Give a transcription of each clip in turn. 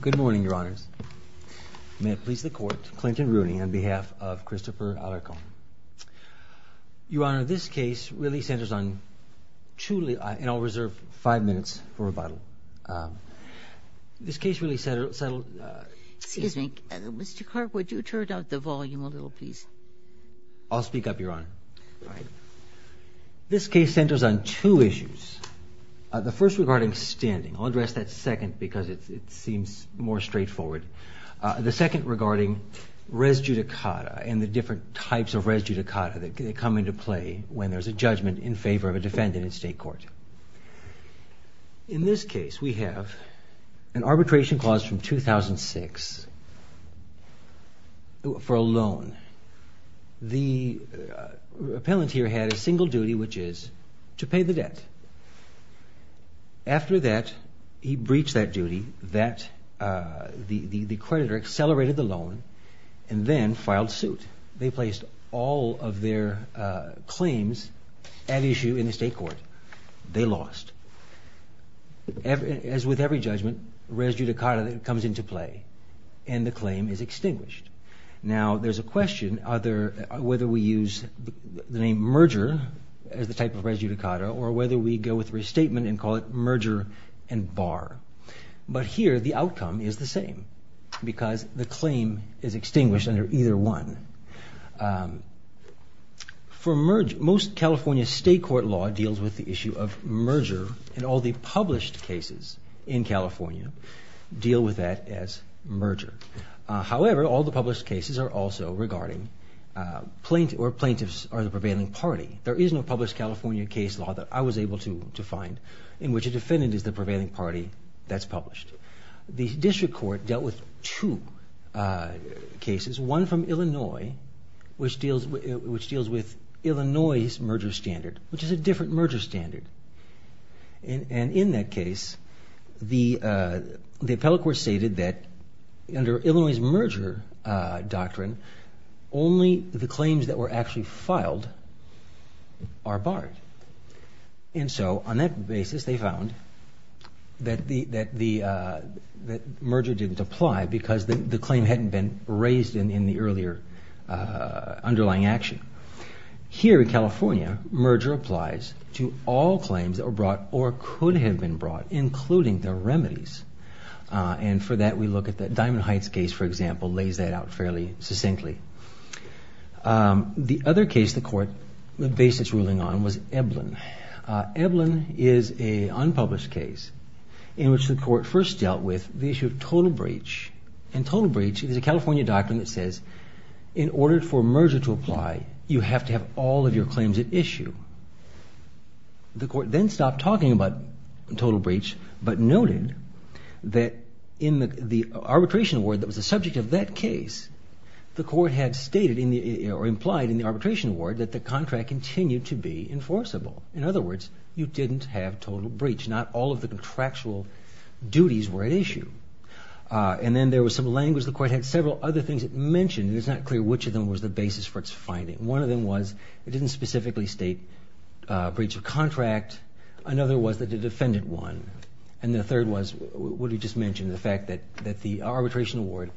Good morning, Your Honors. May it please the Court, Clinton Rooney on behalf of Christopher Alarcon. Your Honor, this case really centers on two... and I'll reserve five minutes for rebuttal. This case really settled... Excuse me, Mr. Clark, would you turn down the volume a little, please? I'll speak up, Your Honor. This case centers on two issues. The first regarding standing. I'll address that second because it seems more straightforward. The second regarding res judicata and the different types of res judicata that come into play when there's a judgment in favor of a defendant in state court. In this case, we have an arbitration clause from 2006 for a loan. The appellant here had a single duty, which is to pay the debt. After that, he breached that duty. The creditor accelerated the loan and then filed suit. They placed all of their claims at issue in the state court. They lost. As with every judgment, res judicata comes into play and the claim is extinguished. Now, there's a question whether we use the name merger as the type of res judicata or whether we go with restatement and call it merger and bar. But here, the outcome is the same because the claim is extinguished under either one. Most California state court law deals with the issue of merger and all the published cases in California deal with that as merger. However, all the published cases are also regarding plaintiff or plaintiffs are the prevailing party. There is no published California case law that I was able to find in which a defendant is the prevailing party that's published. The district court dealt with two cases, one from Illinois, which deals with Illinois' merger standard, which is a different merger standard. In that case, the appellate court stated that under only the claims that were actually filed are barred. And so on that basis, they found that the merger didn't apply because the claim hadn't been raised in the earlier underlying action. Here in California, merger applies to all claims that were brought or could have been brought, including the remedies. And for that, we look at the Diamond Heights case, for example, lays that out fairly succinctly. The other case the court based its ruling on was Eblen. Eblen is a unpublished case in which the court first dealt with the issue of total breach. And total breach is a California doctrine that says, in order for merger to apply, you have to have all of your claims at issue. The court then stopped talking about total breach, but noted that in the arbitration award that was the subject of that case, the court had stated or implied in the arbitration award that the contract continued to be enforceable. In other words, you didn't have total breach. Not all of the contractual duties were at issue. And then there was some language the court had several other things it mentioned. It's not clear which of them was the basis for its finding. One of them was it didn't specifically state breach of contract. Another was that the defendant won. And the third was what you just mentioned, the fact that the arbitration award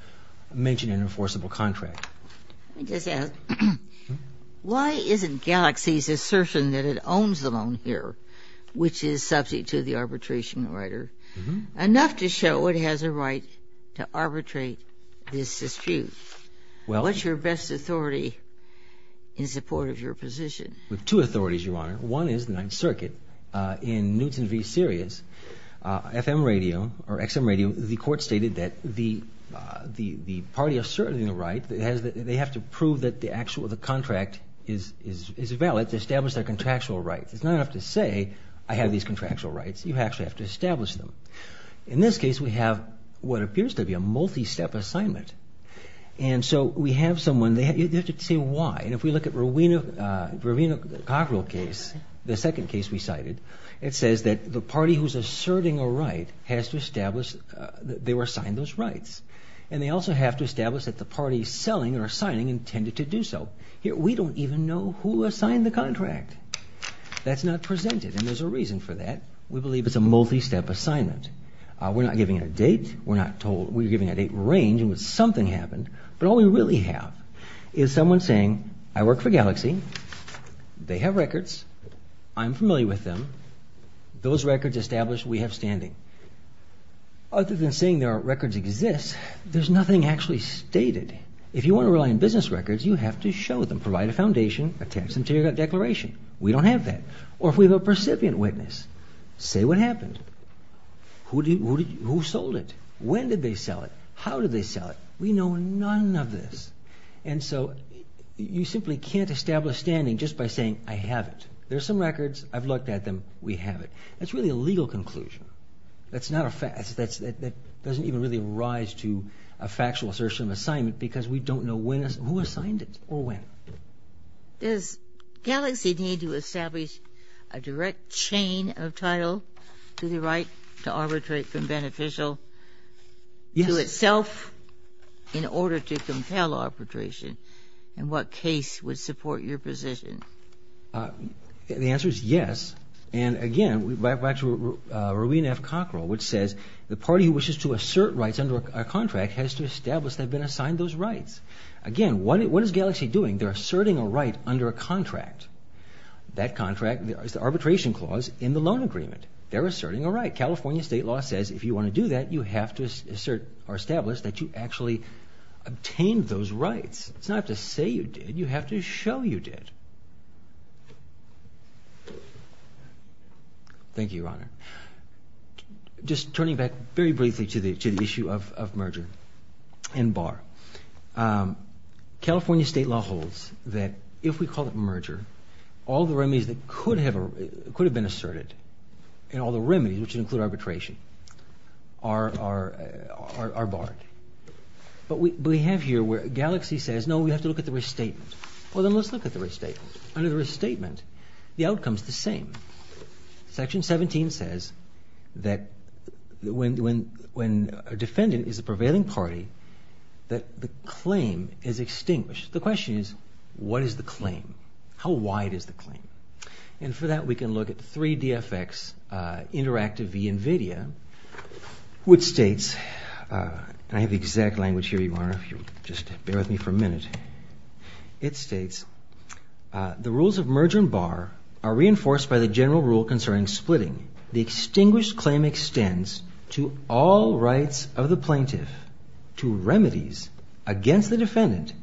mentioned an enforceable contract. Why isn't Galaxy's assertion that it owns the loan here, which is subject to the arbitration writer, enough to show it has a right to arbitrate this dispute? What's your best authority in support of your position? We have two authorities, Your Honor. One is the Ninth Circuit. In Newton v. Sirius FM radio or XM radio, the party asserting the right, they have to prove that the contract is valid to establish their contractual rights. It's not enough to say I have these contractual rights. You actually have to establish them. In this case, we have what appears to be a multi-step assignment. And so we have someone, they have to say why. And if we look at Rowena Cockrell case, the second case we cited, it says that the party who's asserting a right has to establish they were assigned those rights. And they also have to establish that the party selling or signing intended to do so. Here, we don't even know who assigned the contract. That's not presented. And there's a reason for that. We believe it's a multi-step assignment. We're not giving a date. We're not told. We're giving a date range and something happened. But all we really have is someone saying, I work for Galaxy. They have records. I'm familiar with them. Those records establish we have standing. Other than saying their records exist, there's nothing actually stated. If you want to rely on business records, you have to show them. Provide a foundation, a tax and tariff declaration. We don't have that. Or if we have a percipient witness, say what happened. Who sold it? When did they sell it? How did they sell it? We know none of this. And so you simply can't establish standing just by saying I have it. There's some we have it. That's really a legal conclusion. That's not a fact. That doesn't even really rise to a factual assertion of assignment because we don't know who assigned it or when. Does Galaxy need to establish a direct chain of title to the right to arbitrate from beneficial to itself in order to compel arbitration? And what case would support your position? The answer is yes. And again, back to Rowena F. Cockrell, which says the party who wishes to assert rights under a contract has to establish they've been assigned those rights. Again, what is Galaxy doing? They're asserting a right under a contract. That contract is the arbitration clause in the loan agreement. They're asserting a right. California state law says if you want to do that, you have to assert or establish that you actually obtained those rights. It's not to say you did. You have to show you did. Thank you, Your Honor. Just turning back very briefly to the issue of merger and bar. California state law holds that if we call it merger, all the remedies that could have been asserted and all the remedies, which include arbitration, are barred. But we have to look at the restatement. Well, then let's look at the restatement. Under the restatement, the outcome is the same. Section 17 says that when a defendant is a prevailing party, that the claim is extinguished. The question is, what is the claim? How wide is the claim? And for that, we can look at 3dfx Interactive v. NVIDIA, which states, and I have the exact language here, Your Honor, it states, the rules of merger and bar are reinforced by the general rule concerning splitting. The extinguished claim extends to all rights of the plaintiff to remedies against the defendant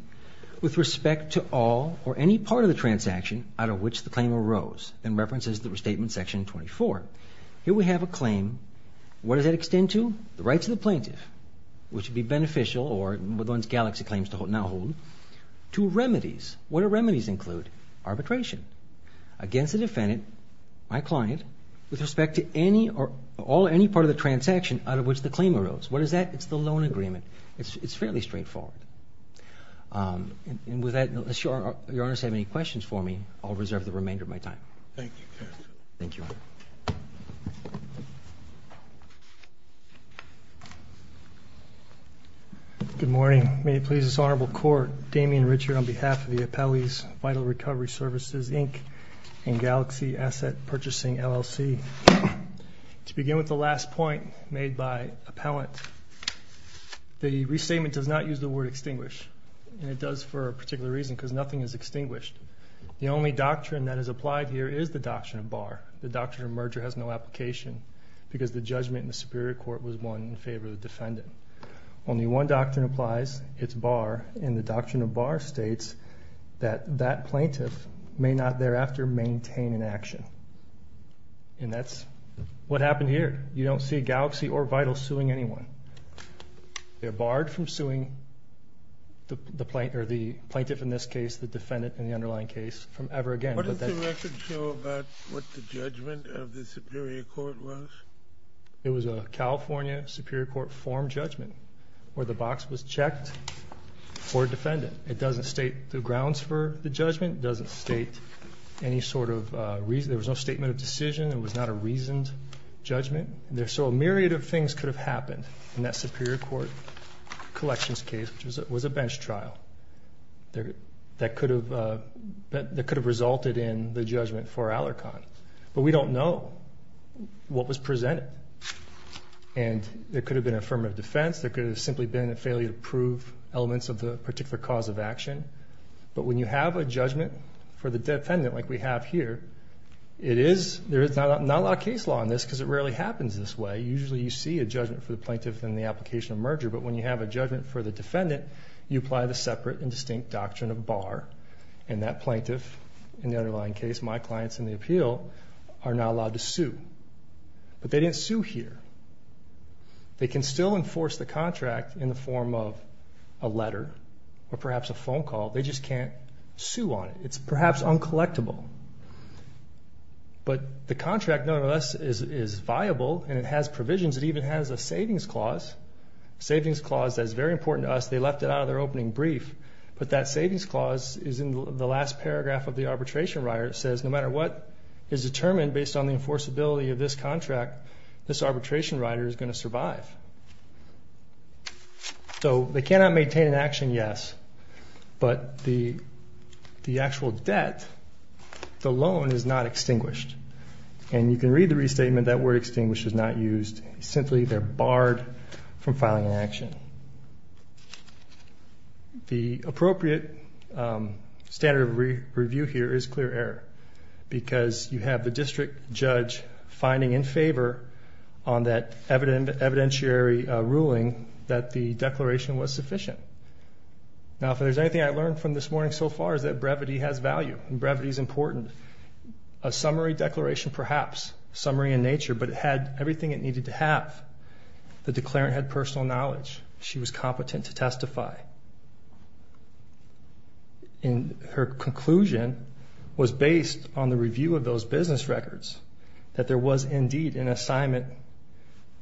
with respect to all or any part of the transaction out of which the claim arose, and references the restatement section 24. Here we have a claim. What does that extend to? The rights of the plaintiff, which would be beneficial or the ones Galaxy claims now hold, to remedies. What do remedies include? Arbitration against the defendant, my client, with respect to any or all or any part of the transaction out of which the claim arose. What is that? It's the loan agreement. It's fairly straightforward. And with that, unless Your Honor has any questions for me, I'll reserve the remainder of my time. Thank you, Your Honor. Good morning. May it please this Honorable Court, Damian Richard on behalf of the Appellee's Vital Recovery Services, Inc., and Galaxy Asset Purchasing LLC. To begin with the last point made by Appellant, the restatement does not use the word extinguish, and it does for a particular reason, because nothing is extinguished. The only doctrine that is a doctrine of bar. The doctrine of merger has no application because the judgment in the Superior Court was won in favor of the defendant. Only one doctrine applies, it's bar, and the doctrine of bar states that that plaintiff may not thereafter maintain an action. And that's what happened here. You don't see Galaxy or Vital suing anyone. They're barred from suing the plaintiff in this case, the defendant in the underlying case, from ever again. What does the record show about what the judgment of the Superior Court was? It was a California Superior Court form judgment where the box was checked for a defendant. It doesn't state the grounds for the judgment. It doesn't state any sort of reason. There was no statement of decision. It was not a reasoned judgment. So a myriad of things could have happened in that Superior Court collections case, which was a affirmative defense trial. That could have resulted in the judgment for Alarcon. But we don't know what was presented. And there could have been affirmative defense, there could have simply been a failure to prove elements of the particular cause of action. But when you have a judgment for the defendant, like we have here, it is... There is not a lot of case law on this, because it rarely happens this way. Usually you see a judgment for the plaintiff in the application of merger, but when you have a judgment for the defendant, you apply the separate and distinct doctrine of bar, and that plaintiff, in the underlying case, my clients in the appeal, are not allowed to sue. But they didn't sue here. They can still enforce the contract in the form of a letter or perhaps a phone call, they just can't sue on it. It's perhaps uncollectible. But the contract, nonetheless, is viable and it has provisions. It even has a savings clause. Savings clause that's very important to us. They left it out of their opening brief, but that savings clause is in the last paragraph of the arbitration writer. It says, no matter what is determined based on the enforceability of this contract, this arbitration writer is gonna survive. So they cannot maintain an action, yes, but the actual debt, the loan is not extinguished. And you can read the restatement, that word extinguished is not used. Simply, they're barred from filing an action. The appropriate standard of review here is clear error, because you have the district judge finding in favor on that evidentiary ruling that the declaration was sufficient. Now, if there's anything I learned from this morning so far is that brevity has value, and brevity is important. A summary declaration, perhaps, summary in nature, but it had everything it needed to have. The declarant had personal knowledge. She was competent to testify. And her conclusion was based on the review of those business records, that there was indeed an assignment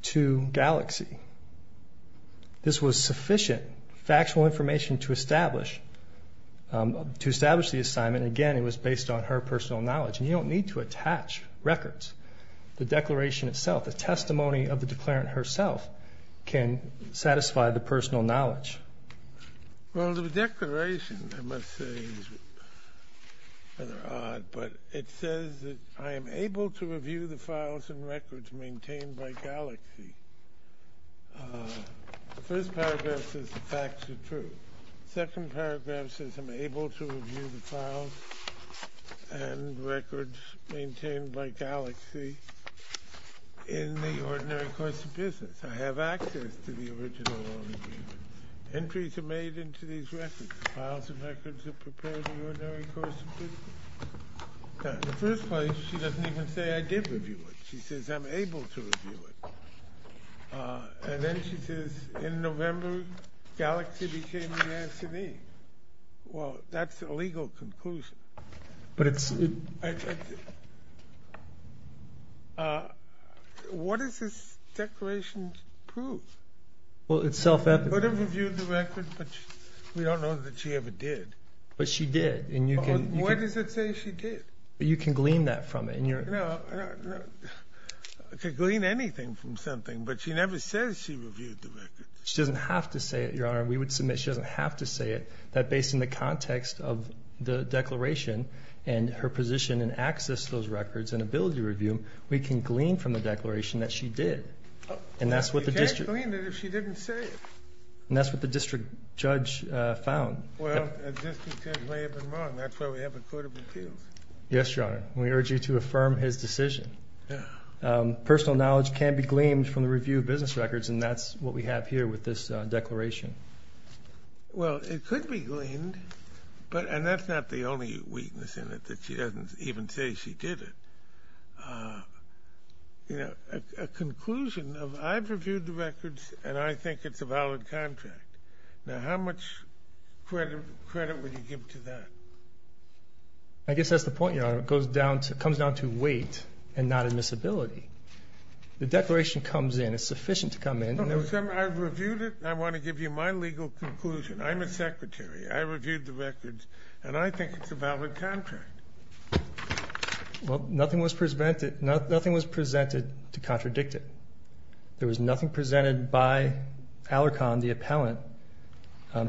to Galaxy. This was sufficient factual information to establish the assignment. Again, it was based on her personal knowledge. And you don't need to attach records. The declaration itself, the testimony of the declarant herself, can satisfy the personal knowledge. Well, the declaration, I must say, is rather odd, but it says that, I am able to review the files and records maintained by Galaxy. The first paragraph says the facts are true. The second paragraph says I'm able to review the files and records maintained by Galaxy in the ordinary course of business. I have access to the original loan agreement. Entries are made into these records. The files and records are prepared in the ordinary course of business. Now, in the first place, she doesn't even say, I did review it. She says, I'm able to review it. And then she says, in November, Galaxy became the answer to me. Well, that's a legal conclusion. What does this declaration prove? Well, it's self-evident. Would have reviewed the record, but we don't know that she ever did. But she did, and you can... What does it say she did? You can glean that from it, and you're... No, I could glean anything from something, but she never says she reviewed the record. She doesn't have to say it, Your Honor. We would submit she doesn't have to say it, that based on the context of the declaration and her position and access to those records and ability to review them, we can glean from the declaration that she did. And that's what the district... You can't glean it if she didn't say it. And that's what the district judge found. Well, a district judge may have been wrong. That's why we have a court of appeals. Yes, Your Honor. We urge you to affirm his decision. Personal knowledge can be gleaned from the review of business records, and that's what we have here with this declaration. Well, it could be gleaned, but... And that's not the only weakness in it, that she doesn't even say she did it. A conclusion of, I've reviewed the records, and I think it's a valid contract. Now, how much credit would you give to that? I guess that's the point, Your Honor. It goes down to... Comes down to weight and not admissibility. The declaration comes in, it's sufficient to come in... I've reviewed it, and I wanna give you my legal conclusion. I'm a secretary. I reviewed the records, and I think it's a valid contract. Well, nothing was presented to contradict it. There was nothing presented by Alarcon, the appellant,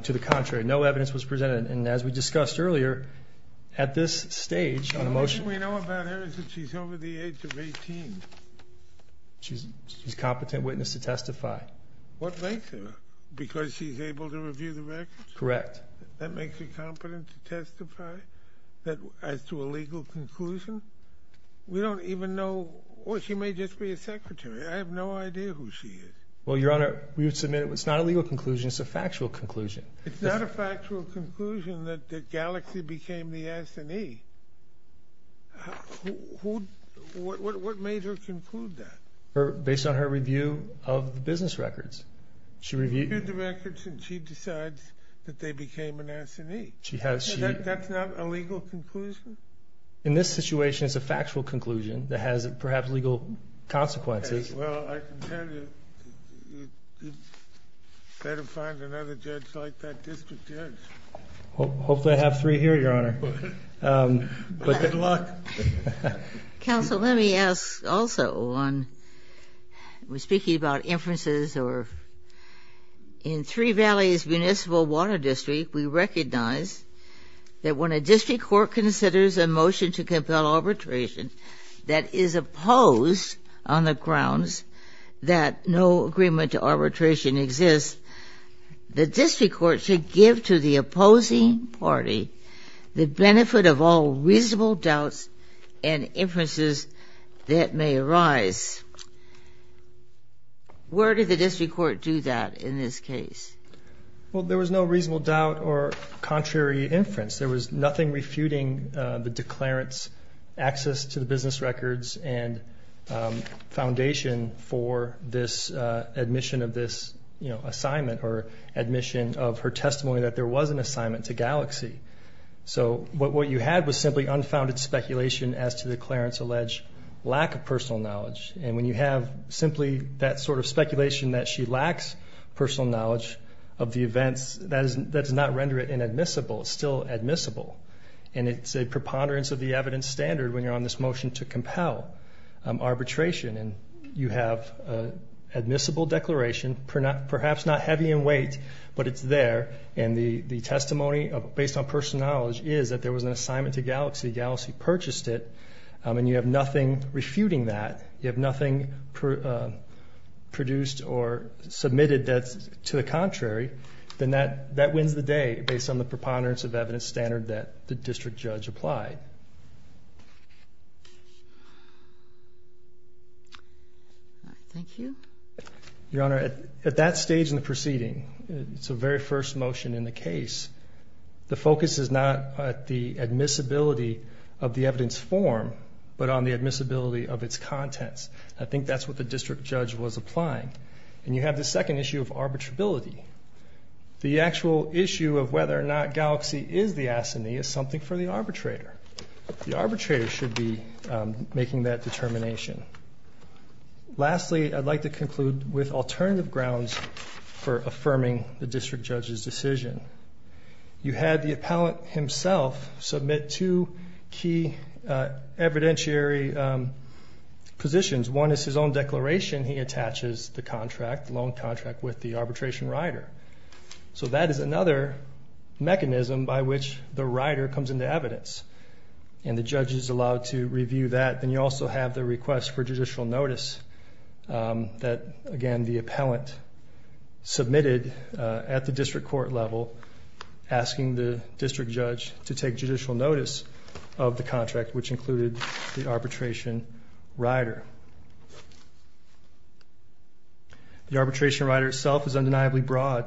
to the contrary. No evidence was presented. And as we discussed earlier, at this stage on a motion... The only thing we know about her is that she's over the age of 18. She's a competent witness to testify. What makes her? Because she's able to review the records? Correct. That makes her competent to testify as to a legal conclusion? We don't even know... Or she may just be a secretary. I have no idea who she is. Well, Your Honor, we would submit it was not a legal conclusion, it's a factual conclusion. It's not a factual conclusion that Galaxy became the S&E. What made her conclude that? Based on her review of the business records. She reviewed the records, and she decides that they became an S&E. She has... That's not a legal conclusion? In this situation, it's a factual conclusion that has perhaps legal consequences. Well, I can tell you, you'd better find another judge like that district judge. Hopefully, I have three here, Your Honor. But good luck. Counsel, let me ask also on... We're speaking about inferences or... In Three Valleys Municipal Water District, we recognize that when a district court considers a motion to compel arbitration that is opposed on the grounds that no agreement to arbitration exists, the district court should give to the opposing party the benefit of all reasonable doubts and inferences that may arise. Where did the district court do that in this case? Well, there was no reasonable doubt or contrary inference. There was no foundation for this admission of this assignment or admission of her testimony that there was an assignment to Galaxy. So what you had was simply unfounded speculation as to the Clarence alleged lack of personal knowledge. And when you have simply that sort of speculation that she lacks personal knowledge of the events, that does not render it inadmissible. It's still admissible. And it's a preponderance of the evidence standard when you're on this motion to compel arbitration. And you have admissible declaration, perhaps not heavy in weight, but it's there. And the testimony based on personal knowledge is that there was an assignment to Galaxy, Galaxy purchased it, and you have nothing refuting that, you have nothing produced or submitted that's to the contrary, then that wins the day based on the preponderance of the evidence. Thank you, Your Honor. At that stage in the proceeding, it's a very first motion in the case. The focus is not the admissibility of the evidence form, but on the admissibility of its contents. I think that's what the district judge was applying. And you have the second issue of arbitrability. The actual issue of whether or not Galaxy is the assignee is something for the arbitrator. The arbitrator should be making that determination. Lastly, I'd like to conclude with alternative grounds for affirming the district judge's decision. You had the appellant himself submit two key evidentiary positions. One is his own declaration. He attaches the contract, the loan contract, with the arbitration rider. So that is another mechanism by which the rider comes into evidence, and the judge is allowed to review that. Then you also have the request for judicial notice that, again, the appellant submitted at the district court level, asking the district judge to take judicial notice of the contract, which included the arbitration rider. The arbitration rider itself is undeniably broad.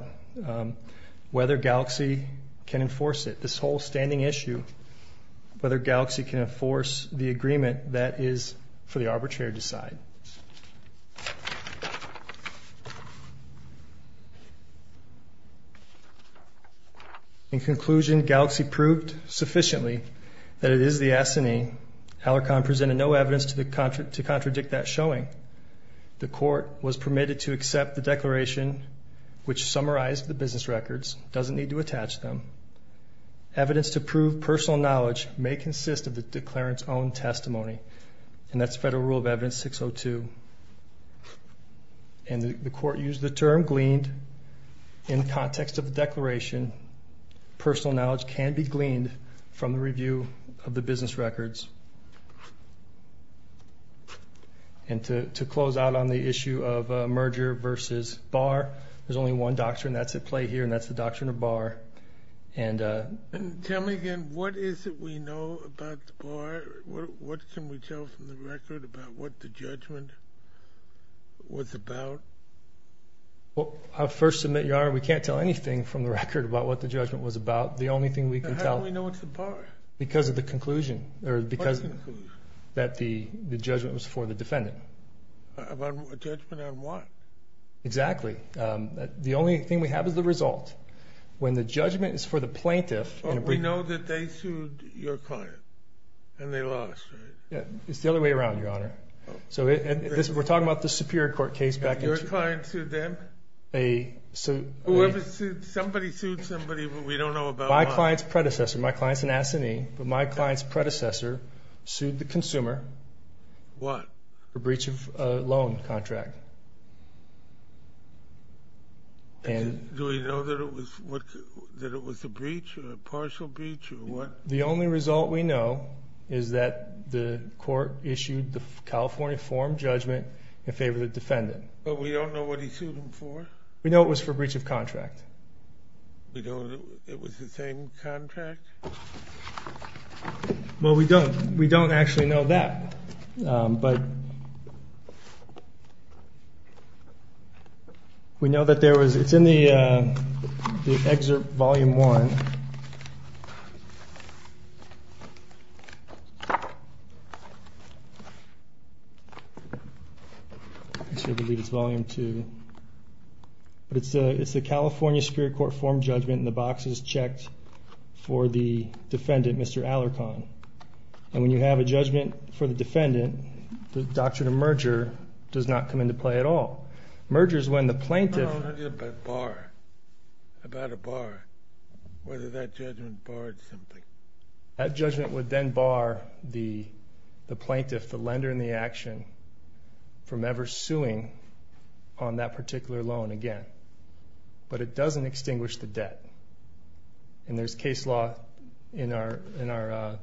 Whether Galaxy can enforce it, this whole standing issue, whether Galaxy can enforce the agreement that is for the arbitrator to decide. In conclusion, Galaxy proved sufficiently that it is the assignee. Alarcon presented no evidence to contradict that showing. The court was permitted to accept the declaration, which summarized the business records, doesn't need to attach them. Evidence to prove personal knowledge may consist of the declarant's own testimony, and that's Federal Rule of Evidence 602. And the court used the term gleaned in the context of the review of the business records. And to close out on the issue of merger versus bar, there's only one doctrine. That's at play here, and that's the doctrine of bar. And tell me again, what is it we know about the bar? What can we tell from the record about what the judgment was about? Well, I'll first submit, Your Honor, we can't tell anything from the record about what the judgment was about. The only thing we can tell... How do we know it's the bar? Because of the conclusion, or because... What conclusion? That the judgment was for the defendant. A judgment on what? Exactly. The only thing we have is the result. When the judgment is for the plaintiff... But we know that they sued your client, and they lost, right? Yeah, it's the other way around, Your Honor. So we're talking about the Superior Court case back in... And your client sued them? A... Whoever sued... Somebody sued somebody, but we don't know about... My client's predecessor. My client's an S&E, but my client's predecessor sued the consumer. What? For breach of loan contract. And... Do we know that it was a breach, or a partial breach, or what? The only result we know is that the court issued the California form judgment in favor of the defendant. But we don't know what he sued them for? We know it was for breach of contract. We don't... It was the same contract? Well, we don't... We don't actually know that, but we know that there was... It's in the excerpt, Volume 1. I believe it's Volume 2. It's the California Superior Court form judgment, and the box is checked for the defendant, Mr. Alarcon. And when you have a judgment for the defendant, the doctrine of merger does not come into play at all. Merger's when the plaintiff... No, no, no, no, but a bar. About a bar. Whether that judgment barred something. That judgment would then bar the plaintiff, the lender in the action, from ever suing on that particular loan again. But it doesn't extinguish the debt. And there's case law in our... In our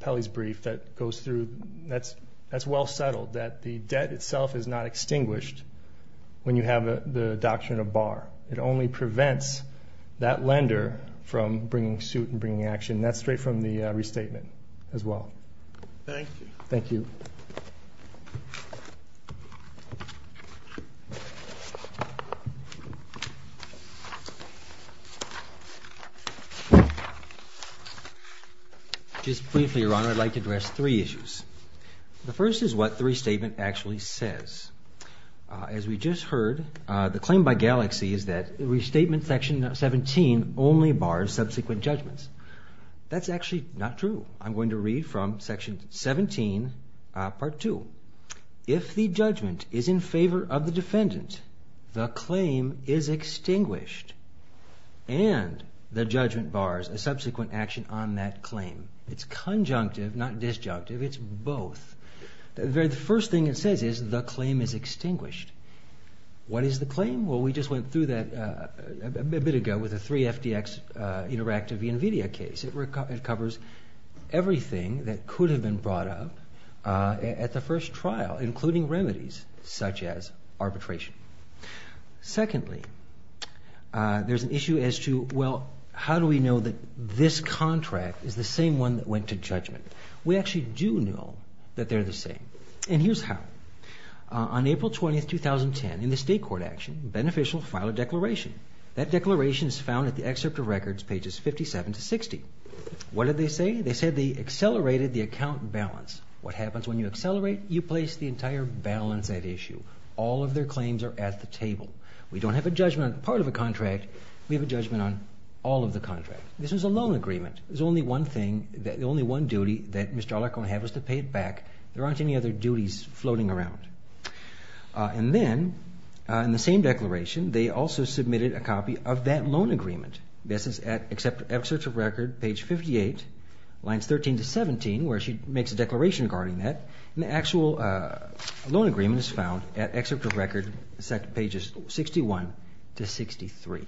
appellee's brief that goes through... That's well settled, that the debt itself is not extinguished when you have the doctrine of bar. It only prevents that lender from bringing suit and bringing action. And that's straight from the restatement as well. Thank you. Thank you. Just briefly, Your Honor, I'd like to address three issues. The first is what the restatement actually says. As we just heard, the claim by Galaxy is that the restatement, Section 17, only bars subsequent judgments. That's actually not true. I'm going to read from Section 17, Part 2. If the judgment is in favor of the defendant, the claim is extinguished. And the judgment bars a subsequent action on that claim. It's conjunctive, not disjunctive. It's both. The first thing it says is the claim is extinguished. What is the claim? Well, we just went through that a bit ago with the three FDX interactive invidia case. It covers everything that could have been brought up at the first trial. Including remedies such as arbitration. Secondly, there's an issue as to, well, how do we know that this contract is the same one that went to judgment? We actually do know that they're the same. And here's how. On April 20, 2010, in the state court action, Beneficial filed a declaration. That declaration is found at the excerpt of records, pages 57 to 60. What did they say? They said they accelerated the account balance. What happens when you accelerate? You place the entire balance at issue. All of their claims are at the table. We don't have a judgment on part of a contract. We have a judgment on all of the contracts. This is a loan agreement. There's only one thing, the only one duty that Mr. Alarcon had was to pay it back. There aren't any other duties floating around. And then, in the same declaration, they also submitted a copy of that loan agreement. This is at excerpt of records, page 58, lines 13 to 17, where she makes a declaration regarding that. And the actual loan agreement is found at excerpt of records, pages 61 to 63.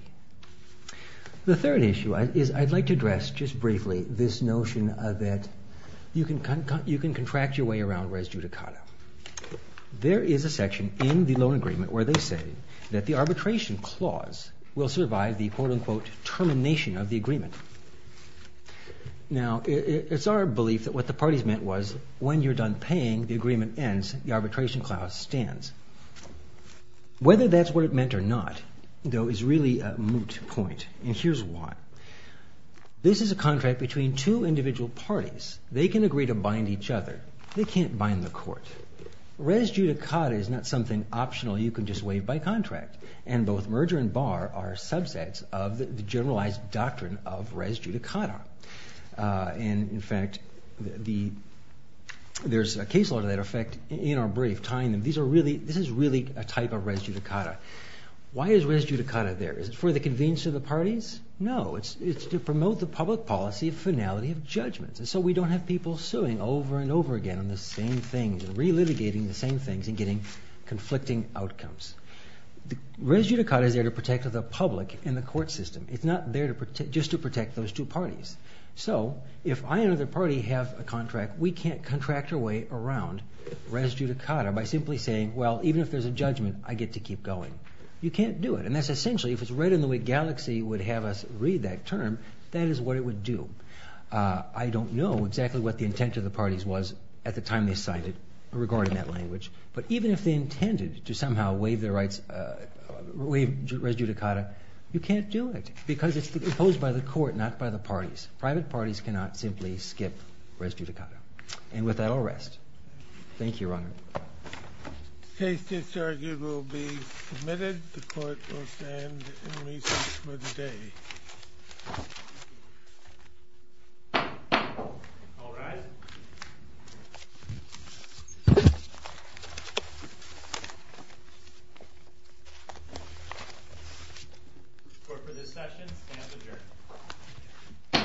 The third issue is I'd like to address just briefly this notion that you can contract your way around res judicata. There is a section in the loan agreement where they say that the arbitration clause will survive the quote unquote termination of the agreement. Now, it's our belief that what the parties meant was when you're done paying, the agreement ends, the arbitration clause stands. Whether that's what it meant or not, though, is really a moot point. And here's why. This is a contract between two individual parties. They can agree to bind each other. They can't bind the court. Res judicata is not something optional you can just waive by contract. And both merger and bar are subsets of the generalized doctrine of res judicata. And, in fact, there's a case law to that effect in our brief tying them. This is really a type of res judicata. Why is res judicata there? Is it for the convenience of the parties? No. It's to promote the public policy of finality of judgments. And so we don't have people suing over and over again on the same things and relitigating the same things and getting conflicting outcomes. Res judicata is there to protect the public and the court system. It's not there just to protect those two parties. So if I and another party have a contract, we can't contract our way around res judicata by simply saying, well, even if there's a judgment, I get to keep going. You can't do it. And that's essentially, if it's right in the way Galaxy would have us read that term, that is what it would do. I don't know exactly what the intent of the parties was at the time they signed it regarding that language. But even if they intended to somehow waive their rights, waive res judicata, you can't do it because it's imposed by the court, not by the parties. Private parties cannot simply skip res judicata. And with that, I'll rest. Thank you, Your Honor. The case disargued will be submitted. The court will stand in recess for the day. All rise. Court for this session stands adjourned.